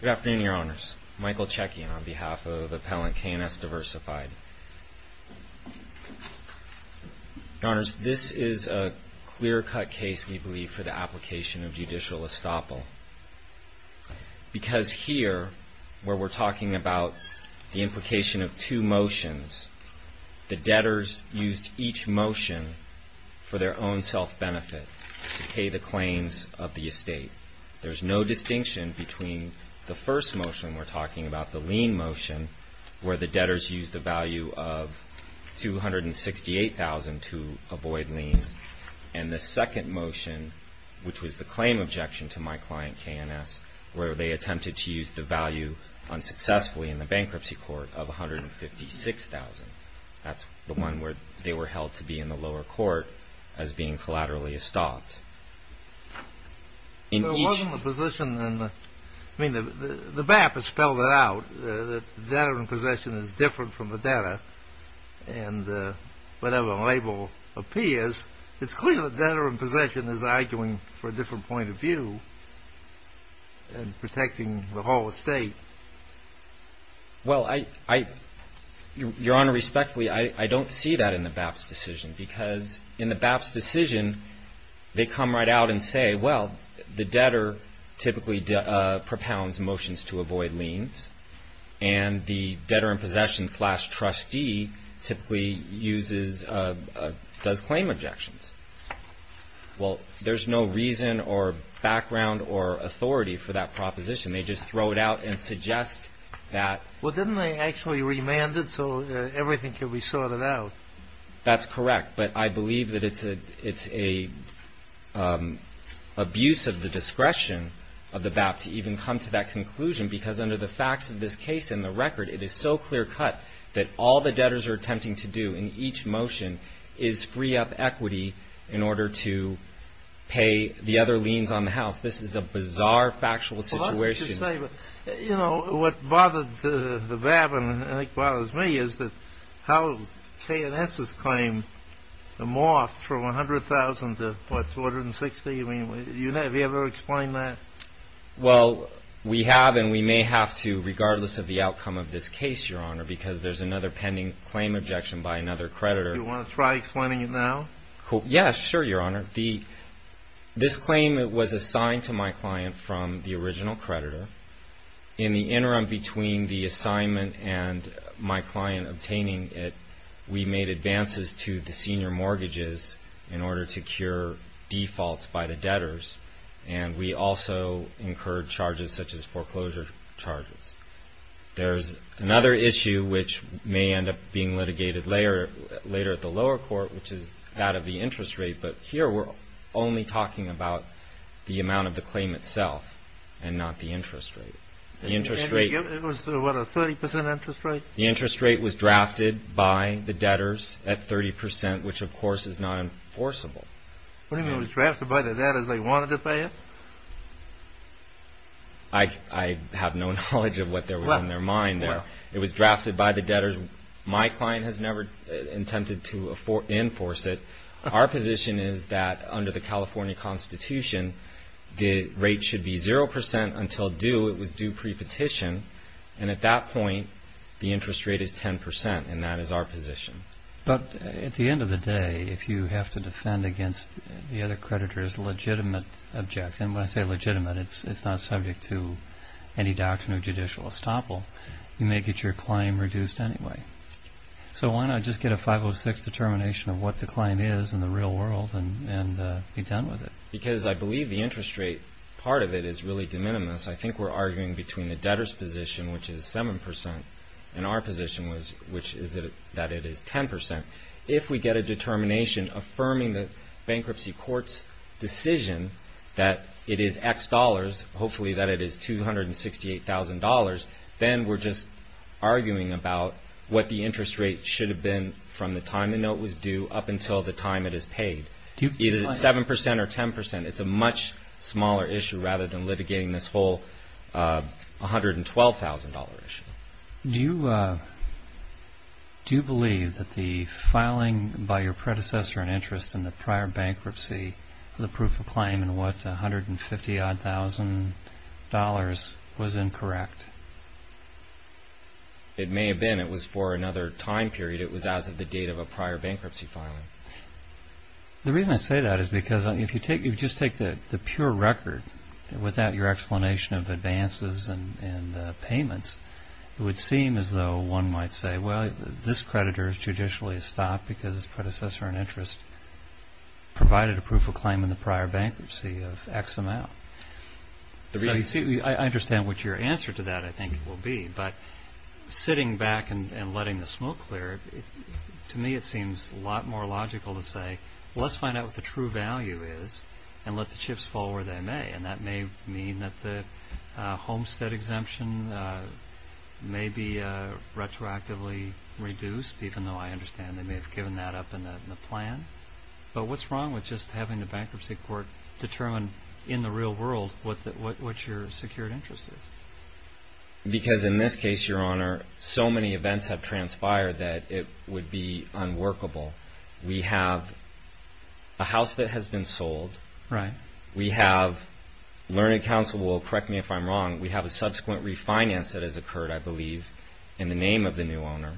Good afternoon, Your Honors. Michael Chekian on behalf of Appellant K&S DIVERSIFIED. Your Honors, this is a clear-cut case, we believe, for the application of judicial estoppel. Because here, where we're talking about the implication of two motions, the debtors used each motion for their own self-benefit to pay the claims of the estate. There's no distinction between the first motion we're talking about, the lien motion, where the debtors used a value of $268,000 to avoid liens, and the second motion, which was the claim objection to my client, K&S, where they attempted to use the value, unsuccessfully in the bankruptcy court, of $156,000. That's the one where they were held to be in the lower court as being collaterally estopped. In each... The position, I mean, the BAP has spelled it out, that debtor in possession is different from the debtor, and whatever label appears, it's clear that debtor in possession is arguing for a different point of view. And protecting the whole estate. Well, I... Your Honor, respectfully, I don't see that in the BAP's decision. Because in the BAP's decision, they come right out and say, well, the debtor typically propounds motions to avoid liens, and the debtor in possession slash trustee typically uses... does claim objections. Well, there's no reason or background or authority for that proposition. They just throw it out and suggest that... Well, didn't they actually remand it so everything could be sorted out? That's correct. But I believe that it's an abuse of the discretion of the BAP to even come to that conclusion, because under the facts of this case and the record, it is so clear-cut that all the debtors are attempting to do in each motion is free up equity in order to pay the other liens on the house. This is a bizarre, factual situation. Well, I should say, you know, what bothered the BAP, and I think botherss me, is that how K&S has claimed the moth from $100,000 to, what, $260,000? I mean, have you ever explained that? Well, we have, and we may have to regardless of the outcome of this case, Your Honor, because there's another pending claim objection by another creditor. Do you want to try explaining it now? Yes, sure, Your Honor. This claim was assigned to my client from the original creditor. In the interim between the assignment and my client obtaining it, we made advances to the senior mortgages in order to cure defaults by the debtors, and we also incurred charges such as foreclosure charges. There's another issue which may end up being litigated later at the lower court, which is that of the interest rate, but here we're only talking about the amount of the claim itself and not the interest rate. The interest rate was, what, a 30% interest rate? The interest rate was drafted by the debtors at 30%, which, of course, is not enforceable. What do you mean, it was drafted by the debtors? They wanted to pay it? I have no knowledge of what was on their mind there. It was drafted by the debtors. My client has never intended to enforce it. Our position is that under the California Constitution, the rate should be 0% until due. It was due pre-petition, and at that point, the interest rate is 10%, and that is our position. But at the end of the day, if you have to defend against the other creditor's legitimate objection, when I say legitimate, it's not subject to any doctrine of judicial estoppel, you may get your claim reduced anyway. So why not just get a 506 determination of what the claim is in the real world and be done with it? Because I believe the interest rate, part of it, is really de minimis. I think we're arguing between the debtors' position, which is 7%, and our position, which is that it is 10%. If we get a determination affirming the bankruptcy court's decision that it is X dollars, hopefully that it is $268,000, then we're just arguing about what the interest rate should have been from the time the note was due up until the time it is paid. Either it's 7% or 10%, it's a much smaller issue rather than litigating this whole $112,000 issue. Do you believe that the filing by your predecessor in interest in the prior bankruptcy, the proof of claim in what, $150,000-odd, was incorrect? It may have been. And it was for another time period. It was as of the date of a prior bankruptcy filing. The reason I say that is because if you just take the pure record, without your explanation of advances and payments, it would seem as though one might say, well, this creditor is judicially stopped because his predecessor in interest provided a proof of claim in the prior bankruptcy of X amount. I understand what your answer to that, I think, will be. But sitting back and letting the smoke clear, to me it seems a lot more logical to say, well, let's find out what the true value is and let the chips fall where they may. And that may mean that the homestead exemption may be retroactively reduced, even though I understand they may have given that up in the plan. But what's wrong with just having the bankruptcy court determine in the real world what your secured interest is? Because in this case, Your Honor, so many events have transpired that it would be unworkable. We have a house that has been sold. Right. We have, learning counsel will correct me if I'm wrong, we have a subsequent refinance that has occurred, I believe, in the name of the new owner.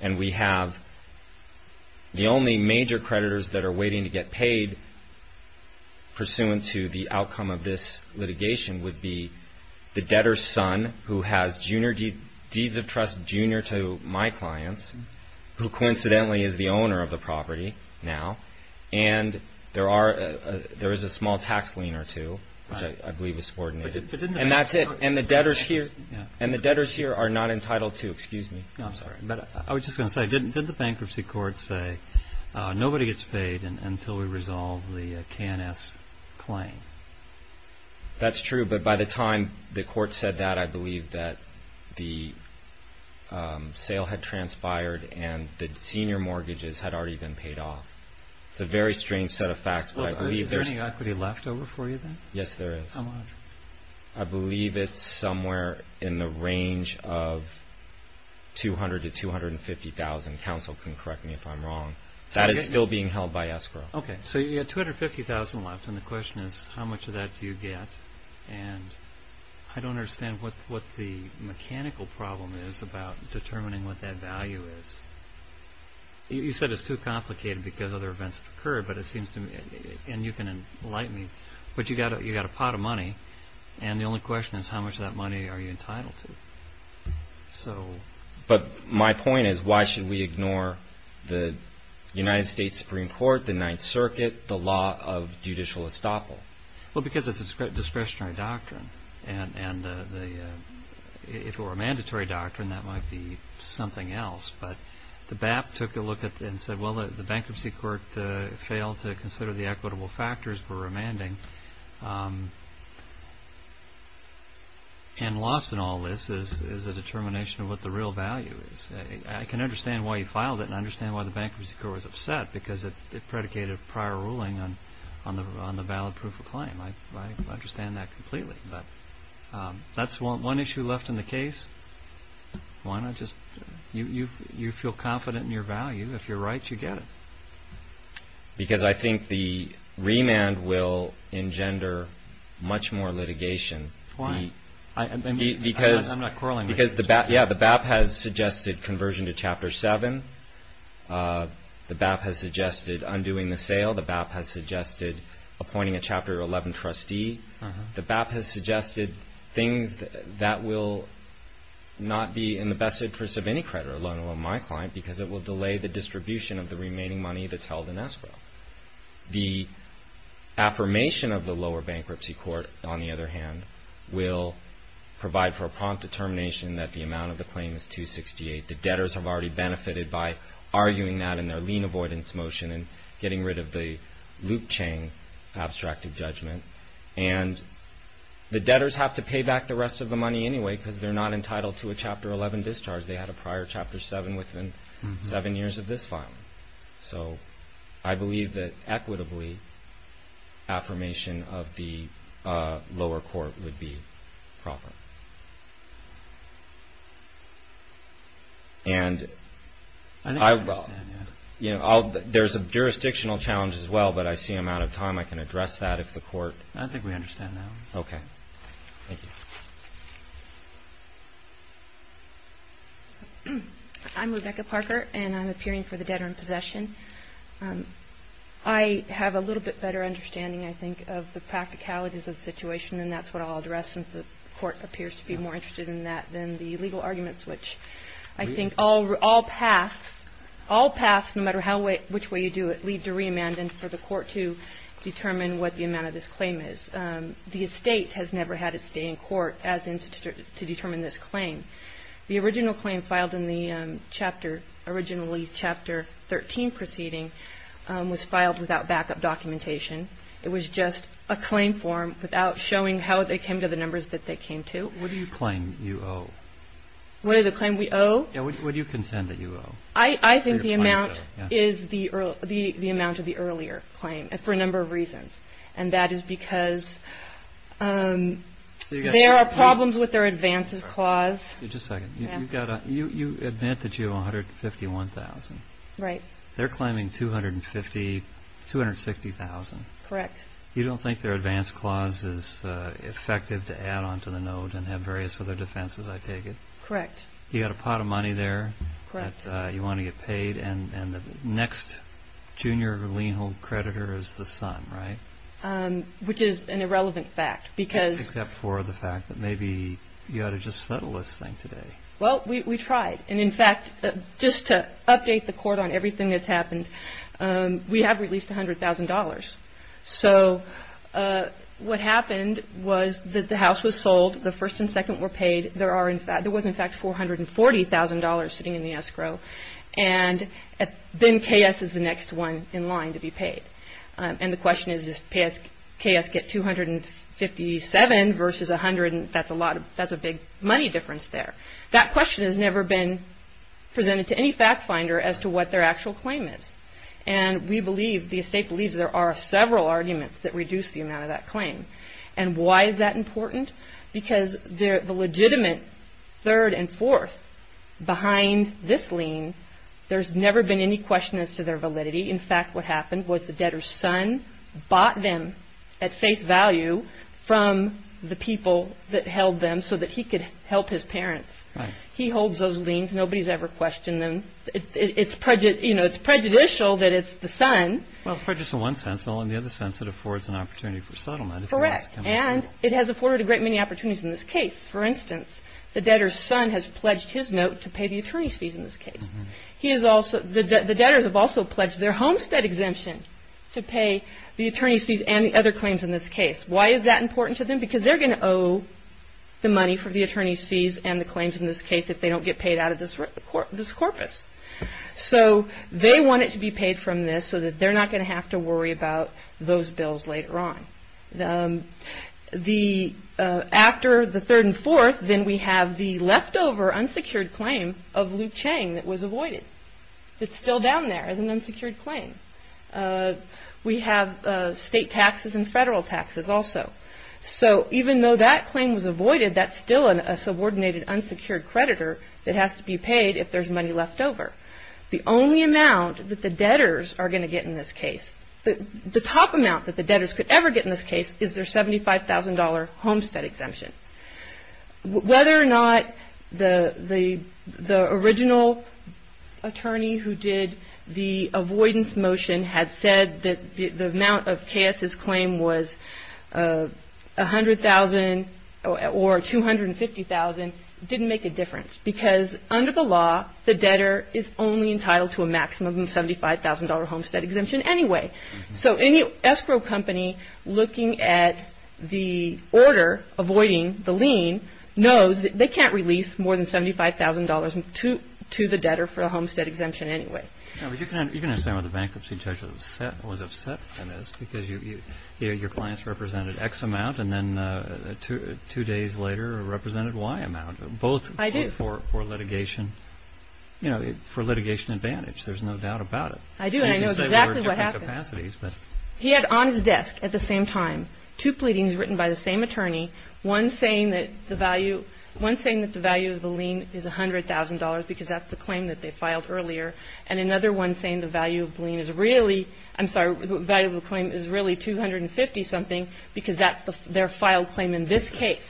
And we have the only major creditors that are waiting to get paid pursuant to the outcome of this litigation would be the debtor's son, who has deeds of trust junior to my clients, who coincidentally is the owner of the property now. And there is a small tax lien or two, which I believe is subordinated. And that's it. And the debtors here are not entitled to. Excuse me. No, I'm sorry. I was just going to say, didn't the bankruptcy court say nobody gets paid until we resolve the KNS claim? That's true. But by the time the court said that, I believe that the sale had transpired and the senior mortgages had already been paid off. It's a very strange set of facts. Is there any equity left over for you then? Yes, there is. How much? I believe it's somewhere in the range of $200,000 to $250,000. Counsel can correct me if I'm wrong. That is still being held by escrow. Okay. So you've got $250,000 left, and the question is how much of that do you get? And I don't understand what the mechanical problem is about determining what that value is. You said it's too complicated because other events have occurred, and you can enlighten me. But you've got a pot of money, and the only question is how much of that money are you entitled to? But my point is why should we ignore the United States Supreme Court, the Ninth Circuit, the law of judicial estoppel? Well, because it's a discretionary doctrine, and if it were a mandatory doctrine, that might be something else. But the BAP took a look at it and said, well, the bankruptcy court failed to consider the equitable factors for remanding, and lost in all this is a determination of what the real value is. I can understand why you filed it and understand why the bankruptcy court was upset because it predicated prior ruling on the valid proof of claim. I understand that completely. But that's one issue left in the case. Why not just you feel confident in your value. If you're right, you get it. Because I think the remand will engender much more litigation. Why? Because the BAP has suggested conversion to Chapter 7. The BAP has suggested undoing the sale. The BAP has suggested appointing a Chapter 11 trustee. The BAP has suggested things that will not be in the best interest of any creditor, let alone my client, because it will delay the distribution of the remaining money that's held in escrow. The affirmation of the lower bankruptcy court, on the other hand, will provide for a prompt determination that the amount of the claim is 268. The debtors have already benefited by arguing that in their lien avoidance motion and getting rid of the loop chain abstracted judgment. And the debtors have to pay back the rest of the money anyway because they're not entitled to a Chapter 11 discharge. They had a prior Chapter 7 within seven years of this filing. So I believe that, equitably, affirmation of the lower court would be proper. And there's a jurisdictional challenge as well, but I see I'm out of time. I can address that if the court... I think we understand now. Okay. Thank you. I'm Rebecca Parker, and I'm appearing for the Debtor in Possession. I have a little bit better understanding, I think, of the practicalities of the situation, and that's what I'll address since the court appears to be more interested in that than the legal arguments, which I think all paths, no matter which way you do it, lead to remand and for the court to determine what the amount of this claim is. The State has never had its day in court as in to determine this claim. The original claim filed in the Chapter, originally Chapter 13 proceeding, was filed without backup documentation. It was just a claim form without showing how they came to the numbers that they came to. What do you claim you owe? What are the claims we owe? Yeah. What do you contend that you owe? I think the amount is the amount of the earlier claim for a number of reasons, and that is because there are problems with their advances clause. Just a second. You admit that you owe $151,000. They're claiming $250,000, $260,000. Correct. You don't think their advance clause is effective to add on to the note and have various other defenses, I take it? Correct. You've got a pot of money there that you want to get paid, and the next junior lien-hold creditor is the son, right? Which is an irrelevant fact. Except for the fact that maybe you ought to just settle this thing today. Well, we tried. And, in fact, just to update the court on everything that's happened, we have released $100,000. So what happened was that the house was sold, the first and second were paid. There was, in fact, $440,000 sitting in the escrow. And then KS is the next one in line to be paid. And the question is, does KS get $257,000 versus $100,000? That's a big money difference there. That question has never been presented to any fact finder as to what their actual claim is. And we believe, the estate believes, there are several arguments that reduce the amount of that claim. And why is that important? Because the legitimate third and fourth behind this lien, there's never been any question as to their validity. In fact, what happened was the debtor's son bought them at face value from the people that held them so that he could help his parents. He holds those liens. Nobody's ever questioned them. It's prejudicial that it's the son. Well, it's prejudicial in one sense, and only in the other sense it affords an opportunity for settlement. Correct. And it has afforded a great many opportunities in this case. For instance, the debtor's son has pledged his note to pay the attorney's fees in this case. The debtors have also pledged their homestead exemption to pay the attorney's fees and the other claims in this case. Why is that important to them? Because they're going to owe the money for the attorney's fees and the claims in this case if they don't get paid out of this corpus. So they want it to be paid from this so that they're not going to have to worry about those bills later on. After the third and fourth, then we have the leftover unsecured claim of Luke Chang that was avoided. It's still down there as an unsecured claim. We have state taxes and federal taxes also. So even though that claim was avoided, that's still a subordinated unsecured creditor that has to be paid if there's money left over. The only amount that the debtors are going to get in this case, the top amount that the debtors could ever get in this case is their $75,000 homestead exemption. Whether or not the original attorney who did the avoidance motion had said that the amount of KS's claim was $100,000 or $250,000 didn't make a difference because under the law, the debtor is only entitled to a maximum of $75,000 homestead exemption anyway. So any escrow company looking at the order, avoiding the lien, knows that they can't release more than $75,000 to the debtor for a homestead exemption anyway. You can understand why the bankruptcy judge was upset by this because your clients represented X amount and then two days later represented Y amount, both for litigation advantage. There's no doubt about it. I do. I know exactly what happened. He had on his desk at the same time two pleadings written by the same attorney, one saying that the value of the lien is $100,000 because that's a claim that they filed earlier, and another one saying the value of the lien is really, I'm sorry, the value of the claim is really $250,000 something because that's their filed claim in this case.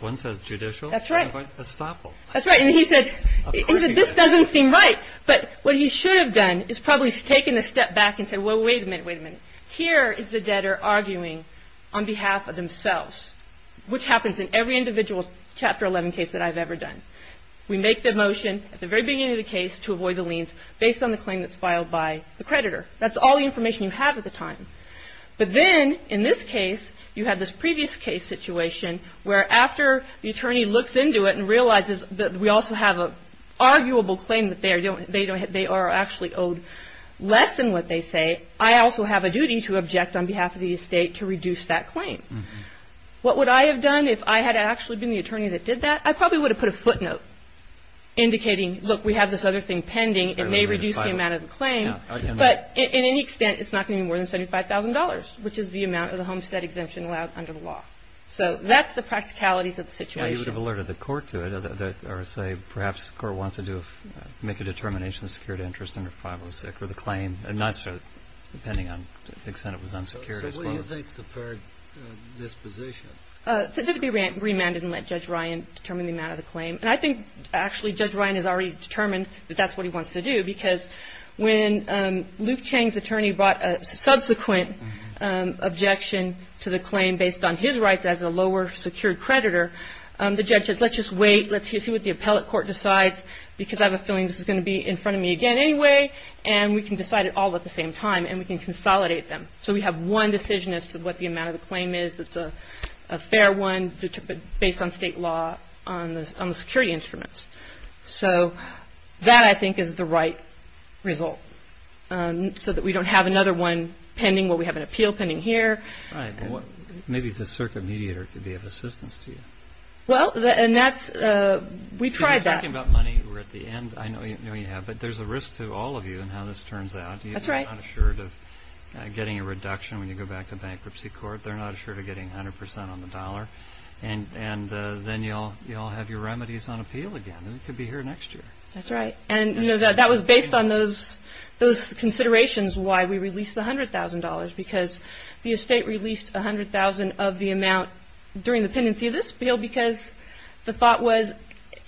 One says judicial. That's right. That's right. And he said this doesn't seem right. But what he should have done is probably taken a step back and said, well, wait a minute, wait a minute. Here is the debtor arguing on behalf of themselves, which happens in every individual Chapter 11 case that I've ever done. We make the motion at the very beginning of the case to avoid the liens based on the claim that's filed by the creditor. That's all the information you have at the time. But then in this case, you have this previous case situation where after the attorney looks into it and realizes that we also have an arguable claim that they are actually owed less than what they say, I also have a duty to object on behalf of the estate to reduce that claim. What would I have done if I had actually been the attorney that did that? I probably would have put a footnote indicating, look, we have this other thing pending. It may reduce the amount of the claim. But in any extent, it's not going to be more than $75,000, which is the amount of the homestead exemption allowed under the law. So that's the practicalities of the situation. I thought you would have alerted the court to it or say perhaps the court wants to make a determination of secured interest under 506 or the claim, and not so, depending on the extent it was unsecured as well. Well, you think it's a fair disposition. It has to be remanded and let Judge Ryan determine the amount of the claim. And I think actually Judge Ryan has already determined that that's what he wants to do because when Luke Chang's attorney brought a subsequent objection to the claim based on his rights as a lower secured creditor, the judge said let's just wait, let's see what the appellate court decides because I have a feeling this is going to be in front of me again anyway, and we can decide it all at the same time and we can consolidate them. So we have one decision as to what the amount of the claim is. It's a fair one based on state law on the security instruments. So that I think is the right result so that we don't have another one pending where we have an appeal pending here. All right. Maybe the circuit mediator could be of assistance to you. Well, we tried that. If you're talking about money, we're at the end. I know you have, but there's a risk to all of you in how this turns out. That's right. You're not assured of getting a reduction when you go back to bankruptcy court. They're not assured of getting 100% on the dollar. And then you'll have your remedies on appeal again, and it could be here next year. That's right. And that was based on those considerations why we released the $100,000 because the estate released $100,000 of the amount during the pendency of this appeal because the thought was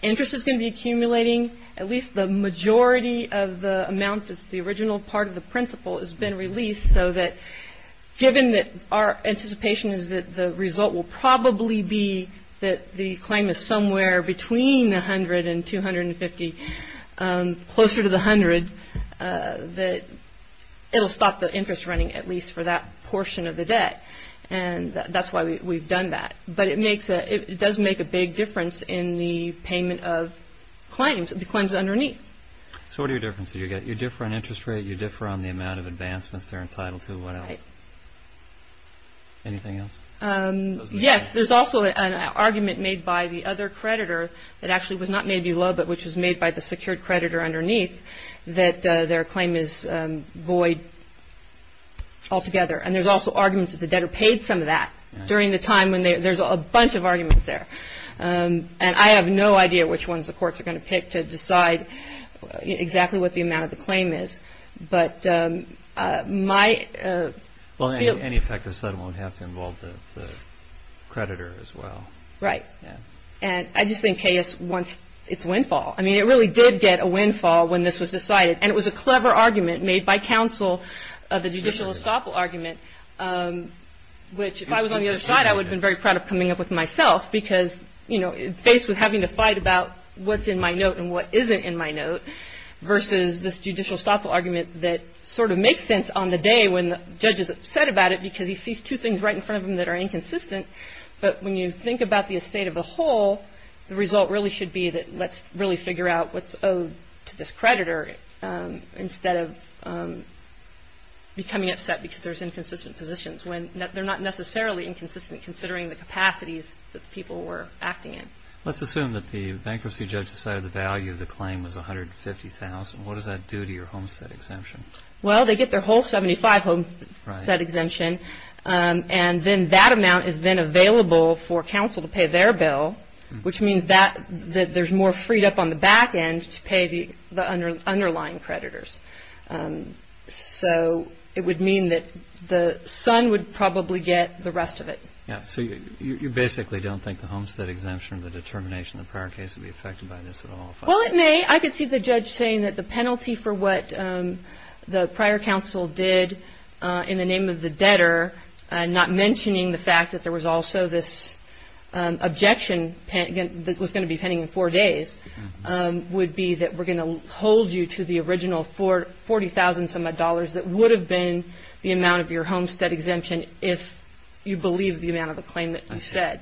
interest is going to be accumulating. At least the majority of the amount that's the original part of the principal has been released so that given that our anticipation is that the result will probably be that the claim is somewhere between 100 and 250, closer to the 100, that it'll stop the interest running at least for that portion of the debt. And that's why we've done that. But it does make a big difference in the payment of claims, the claims underneath. So what are your differences? You differ on interest rate. You differ on the amount of advancements they're entitled to. What else? Anything else? Yes, there's also an argument made by the other creditor that actually was not made below but which was made by the secured creditor underneath that their claim is void altogether. And there's also arguments that the debtor paid some of that during the time when there's a bunch of arguments there. And I have no idea which ones the courts are going to pick to decide exactly what the amount of the claim is. But my... Well, any effective settlement would have to involve the creditor as well. Right. And I just think KS wants its windfall. I mean, it really did get a windfall when this was decided. And it was a clever argument made by counsel of the judicial estoppel argument, which if I was on the other side, I would have been very proud of coming up with myself because, you know, faced with having to fight about what's in my note and what isn't in my note versus this judicial estoppel argument that sort of makes sense on the day when the judge is upset about it because he sees two things right in front of him that are inconsistent. But when you think about the estate of the whole, the result really should be that let's really figure out what's owed to this creditor instead of becoming upset because there's inconsistent positions when they're not necessarily inconsistent considering the capacities that people were acting in. Let's assume that the bankruptcy judge decided the value of the claim was $150,000. What does that do to your homestead exemption? Right. And then that amount is then available for counsel to pay their bill, which means that there's more freed up on the back end to pay the underlying creditors. So it would mean that the son would probably get the rest of it. Yeah. So you basically don't think the homestead exemption, the determination, the prior case would be affected by this at all? Well, it may. I could see the judge saying that the penalty for what the prior counsel did in the name of the debtor, not mentioning the fact that there was also this objection that was going to be pending in four days, would be that we're going to hold you to the original $40,000 that would have been the amount of your homestead exemption if you believe the amount of the claim that you said. I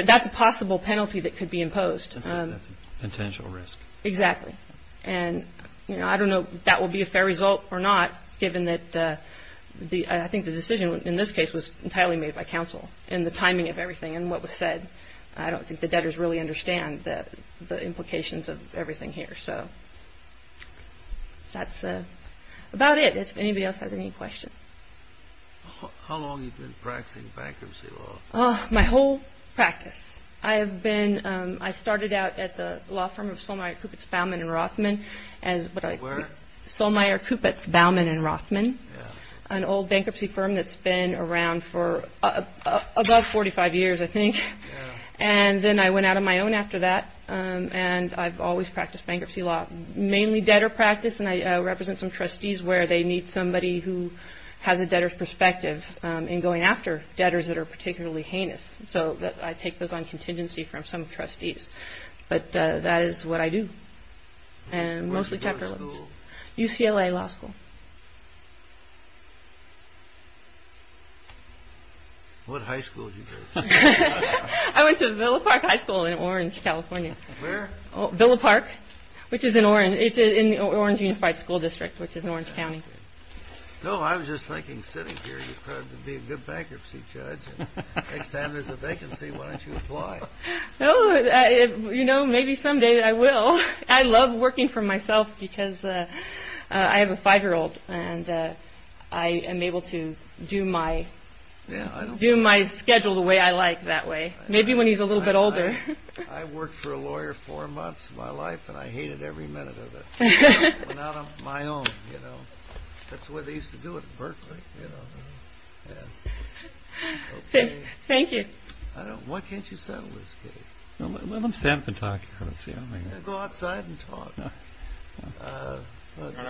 see. That's a possible penalty that could be imposed. That's a potential risk. Exactly. And, you know, I don't know if that will be a fair result or not, given that I think the decision in this case was entirely made by counsel in the timing of everything and what was said. I don't think the debtors really understand the implications of everything here. So that's about it. If anybody else has any questions. How long have you been practicing bankruptcy law? My whole practice. I have been. I started out at the law firm of Solmeyer, Kupitz, Baumann and Rothman. Solmeyer, Kupitz, Baumann and Rothman, an old bankruptcy firm that's been around for above 45 years, I think. And then I went out on my own after that. And I've always practiced bankruptcy law, mainly debtor practice. And I represent some trustees where they need somebody who has a debtor's perspective in going after debtors that are particularly heinous. So I take those on contingency from some trustees. But that is what I do. And mostly chapter. UCLA Law School. What high school did you go to? I went to Villa Park High School in Orange, California. Where? Villa Park, which is in Orange. It's in the Orange Unified School District, which is in Orange County. No, I was just thinking, sitting here, you've got to be a good bankruptcy judge. Next time there's a vacancy, why don't you apply? You know, maybe someday I will. I love working for myself because I have a five-year-old. And I am able to do my schedule the way I like that way. Maybe when he's a little bit older. I worked for a lawyer four months of my life, and I hated every minute of it. I went out on my own. That's the way they used to do it at Berkeley. Thank you. Why can't you settle this case? Let them stand up and talk. Go outside and talk.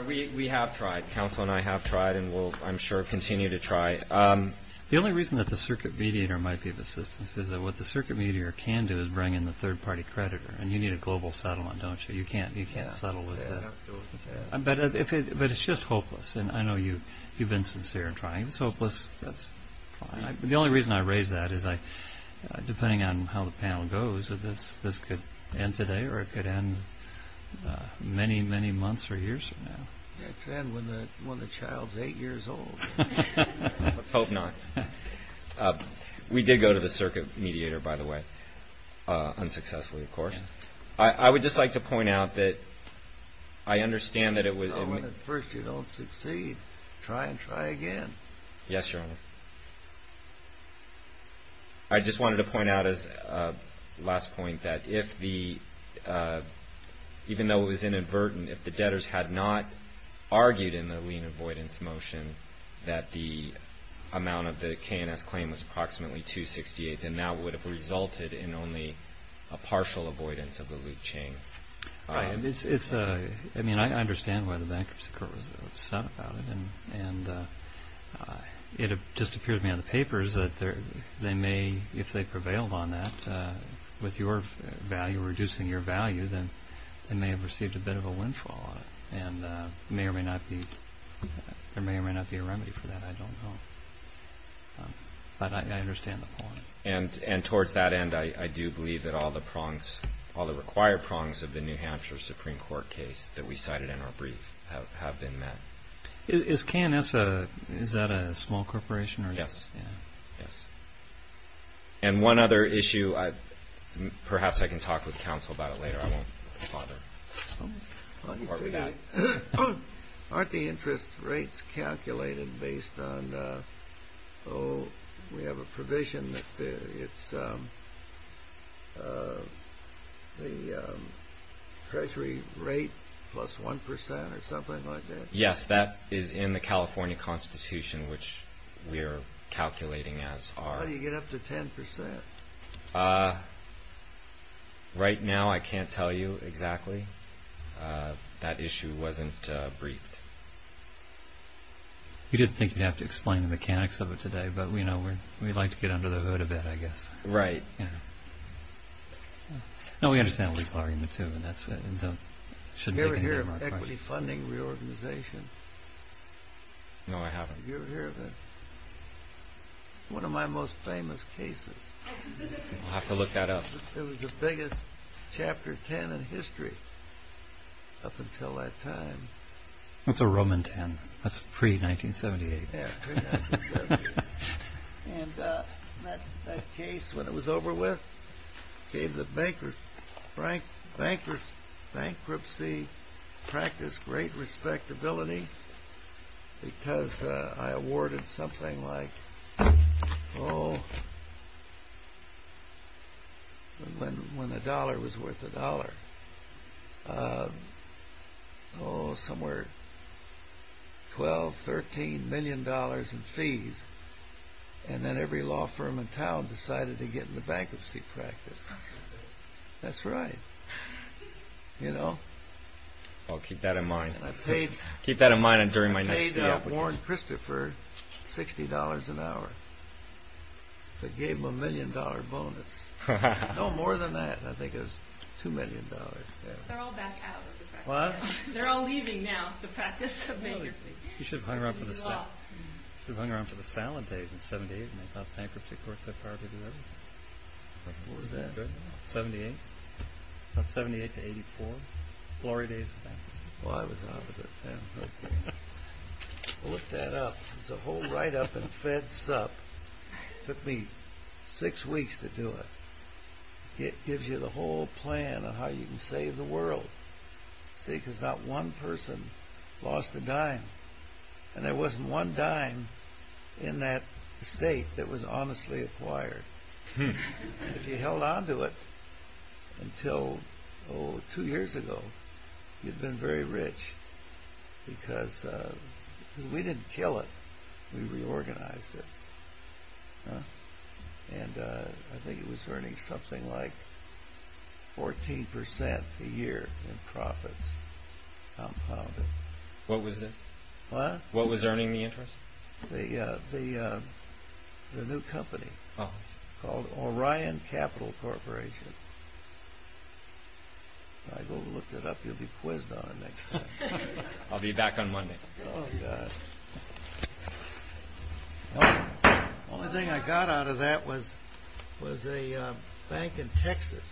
We have tried. Counselor and I have tried and will, I'm sure, continue to try. The only reason that the circuit mediator might be of assistance is that what the circuit mediator can do is bring in the third-party creditor. And you need a global settlement, don't you? You can't settle with that. But it's just hopeless. And I know you've been sincere in trying. It's hopeless. That's fine. The only reason I raise that is, depending on how the panel goes, this could end today or it could end many, many months or years from now. It could end when the child's eight years old. Let's hope not. We did go to the circuit mediator, by the way, unsuccessfully, of course. I would just like to point out that I understand that it was No, when at first you don't succeed, try and try again. Yes, Your Honor. I just wanted to point out as a last point that even though it was inadvertent, if the debtors had not argued in the lien avoidance motion that the amount of the K&S claim was approximately $268,000, then that would have resulted in only a partial avoidance of the loot chain. I understand why the Bankruptcy Court was upset about it. And it just appears to me on the papers that they may, if they prevailed on that, with your value, reducing your value, then they may have received a bit of a windfall. And there may or may not be a remedy for that. I don't know. But I understand the point. And towards that end, I do believe that all the prongs, all the required prongs of the New Hampshire Supreme Court case that we cited in our brief have been met. Is K&S, is that a small corporation? Yes. Yes. And one other issue, perhaps I can talk with counsel about it later. I won't bother. Why don't you do that? Aren't the interest rates calculated based on, oh, we have a provision that it's the treasury rate plus 1% or something like that? Yes, that is in the California Constitution, which we're calculating as our... How do you get up to 10%? Right now, I can't tell you exactly. That issue wasn't briefed. You didn't think you'd have to explain the mechanics of it today, but we'd like to get under the hood a bit, I guess. Right. No, we understand the legal argument, too, and that's it. Have you ever heard of equity funding reorganization? No, I haven't. Have you ever heard of it? It's one of my most famous cases. I'll have to look that up. It was the biggest Chapter 10 in history up until that time. That's a Roman 10. That's pre-1978. Yeah, pre-1978. And that case, when it was over with, gave the bankruptcy practice great respectability, because I awarded something like, oh, when the dollar was worth a dollar, oh, somewhere, $12, $13 million in fees, and then every law firm in town decided to get in the bankruptcy practice. That's right. You know? Well, keep that in mind. I paid Warren Christopher $60 an hour. That gave him a million dollar bonus. No more than that, I think it was $2 million. They're all back out of the practice now. What? They're all leaving now, the practice of bankruptcy. You should have hung around for the salad days in 78, and they thought bankruptcy courts had the power to do everything. What was that? 78, about 78 to 84, glory days of bankruptcy. Well, I was out of it then. I'll look that up. There's a whole write-up in Fed Sup. It took me six weeks to do it. It gives you the whole plan of how you can save the world. See, because not one person lost a dime, and there wasn't one dime in that state that was honestly acquired. If you held on to it until, oh, two years ago, you'd been very rich because we didn't kill it. We reorganized it. I think it was earning something like 14% a year in profits compounded. What was this? What? What was earning the interest? The new company called Orion Capital Corporation. If I go look that up, you'll be quizzed on it next time. I'll be back on Monday. Oh, God. Well, the only thing I got out of that was a bank in Texas.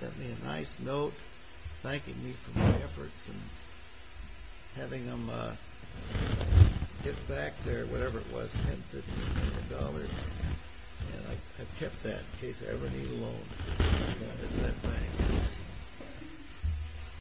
Sent me a nice note thanking me for my efforts and having them get back their whatever it was, $10,000,000. And I kept that in case I ever need a loan at that bank.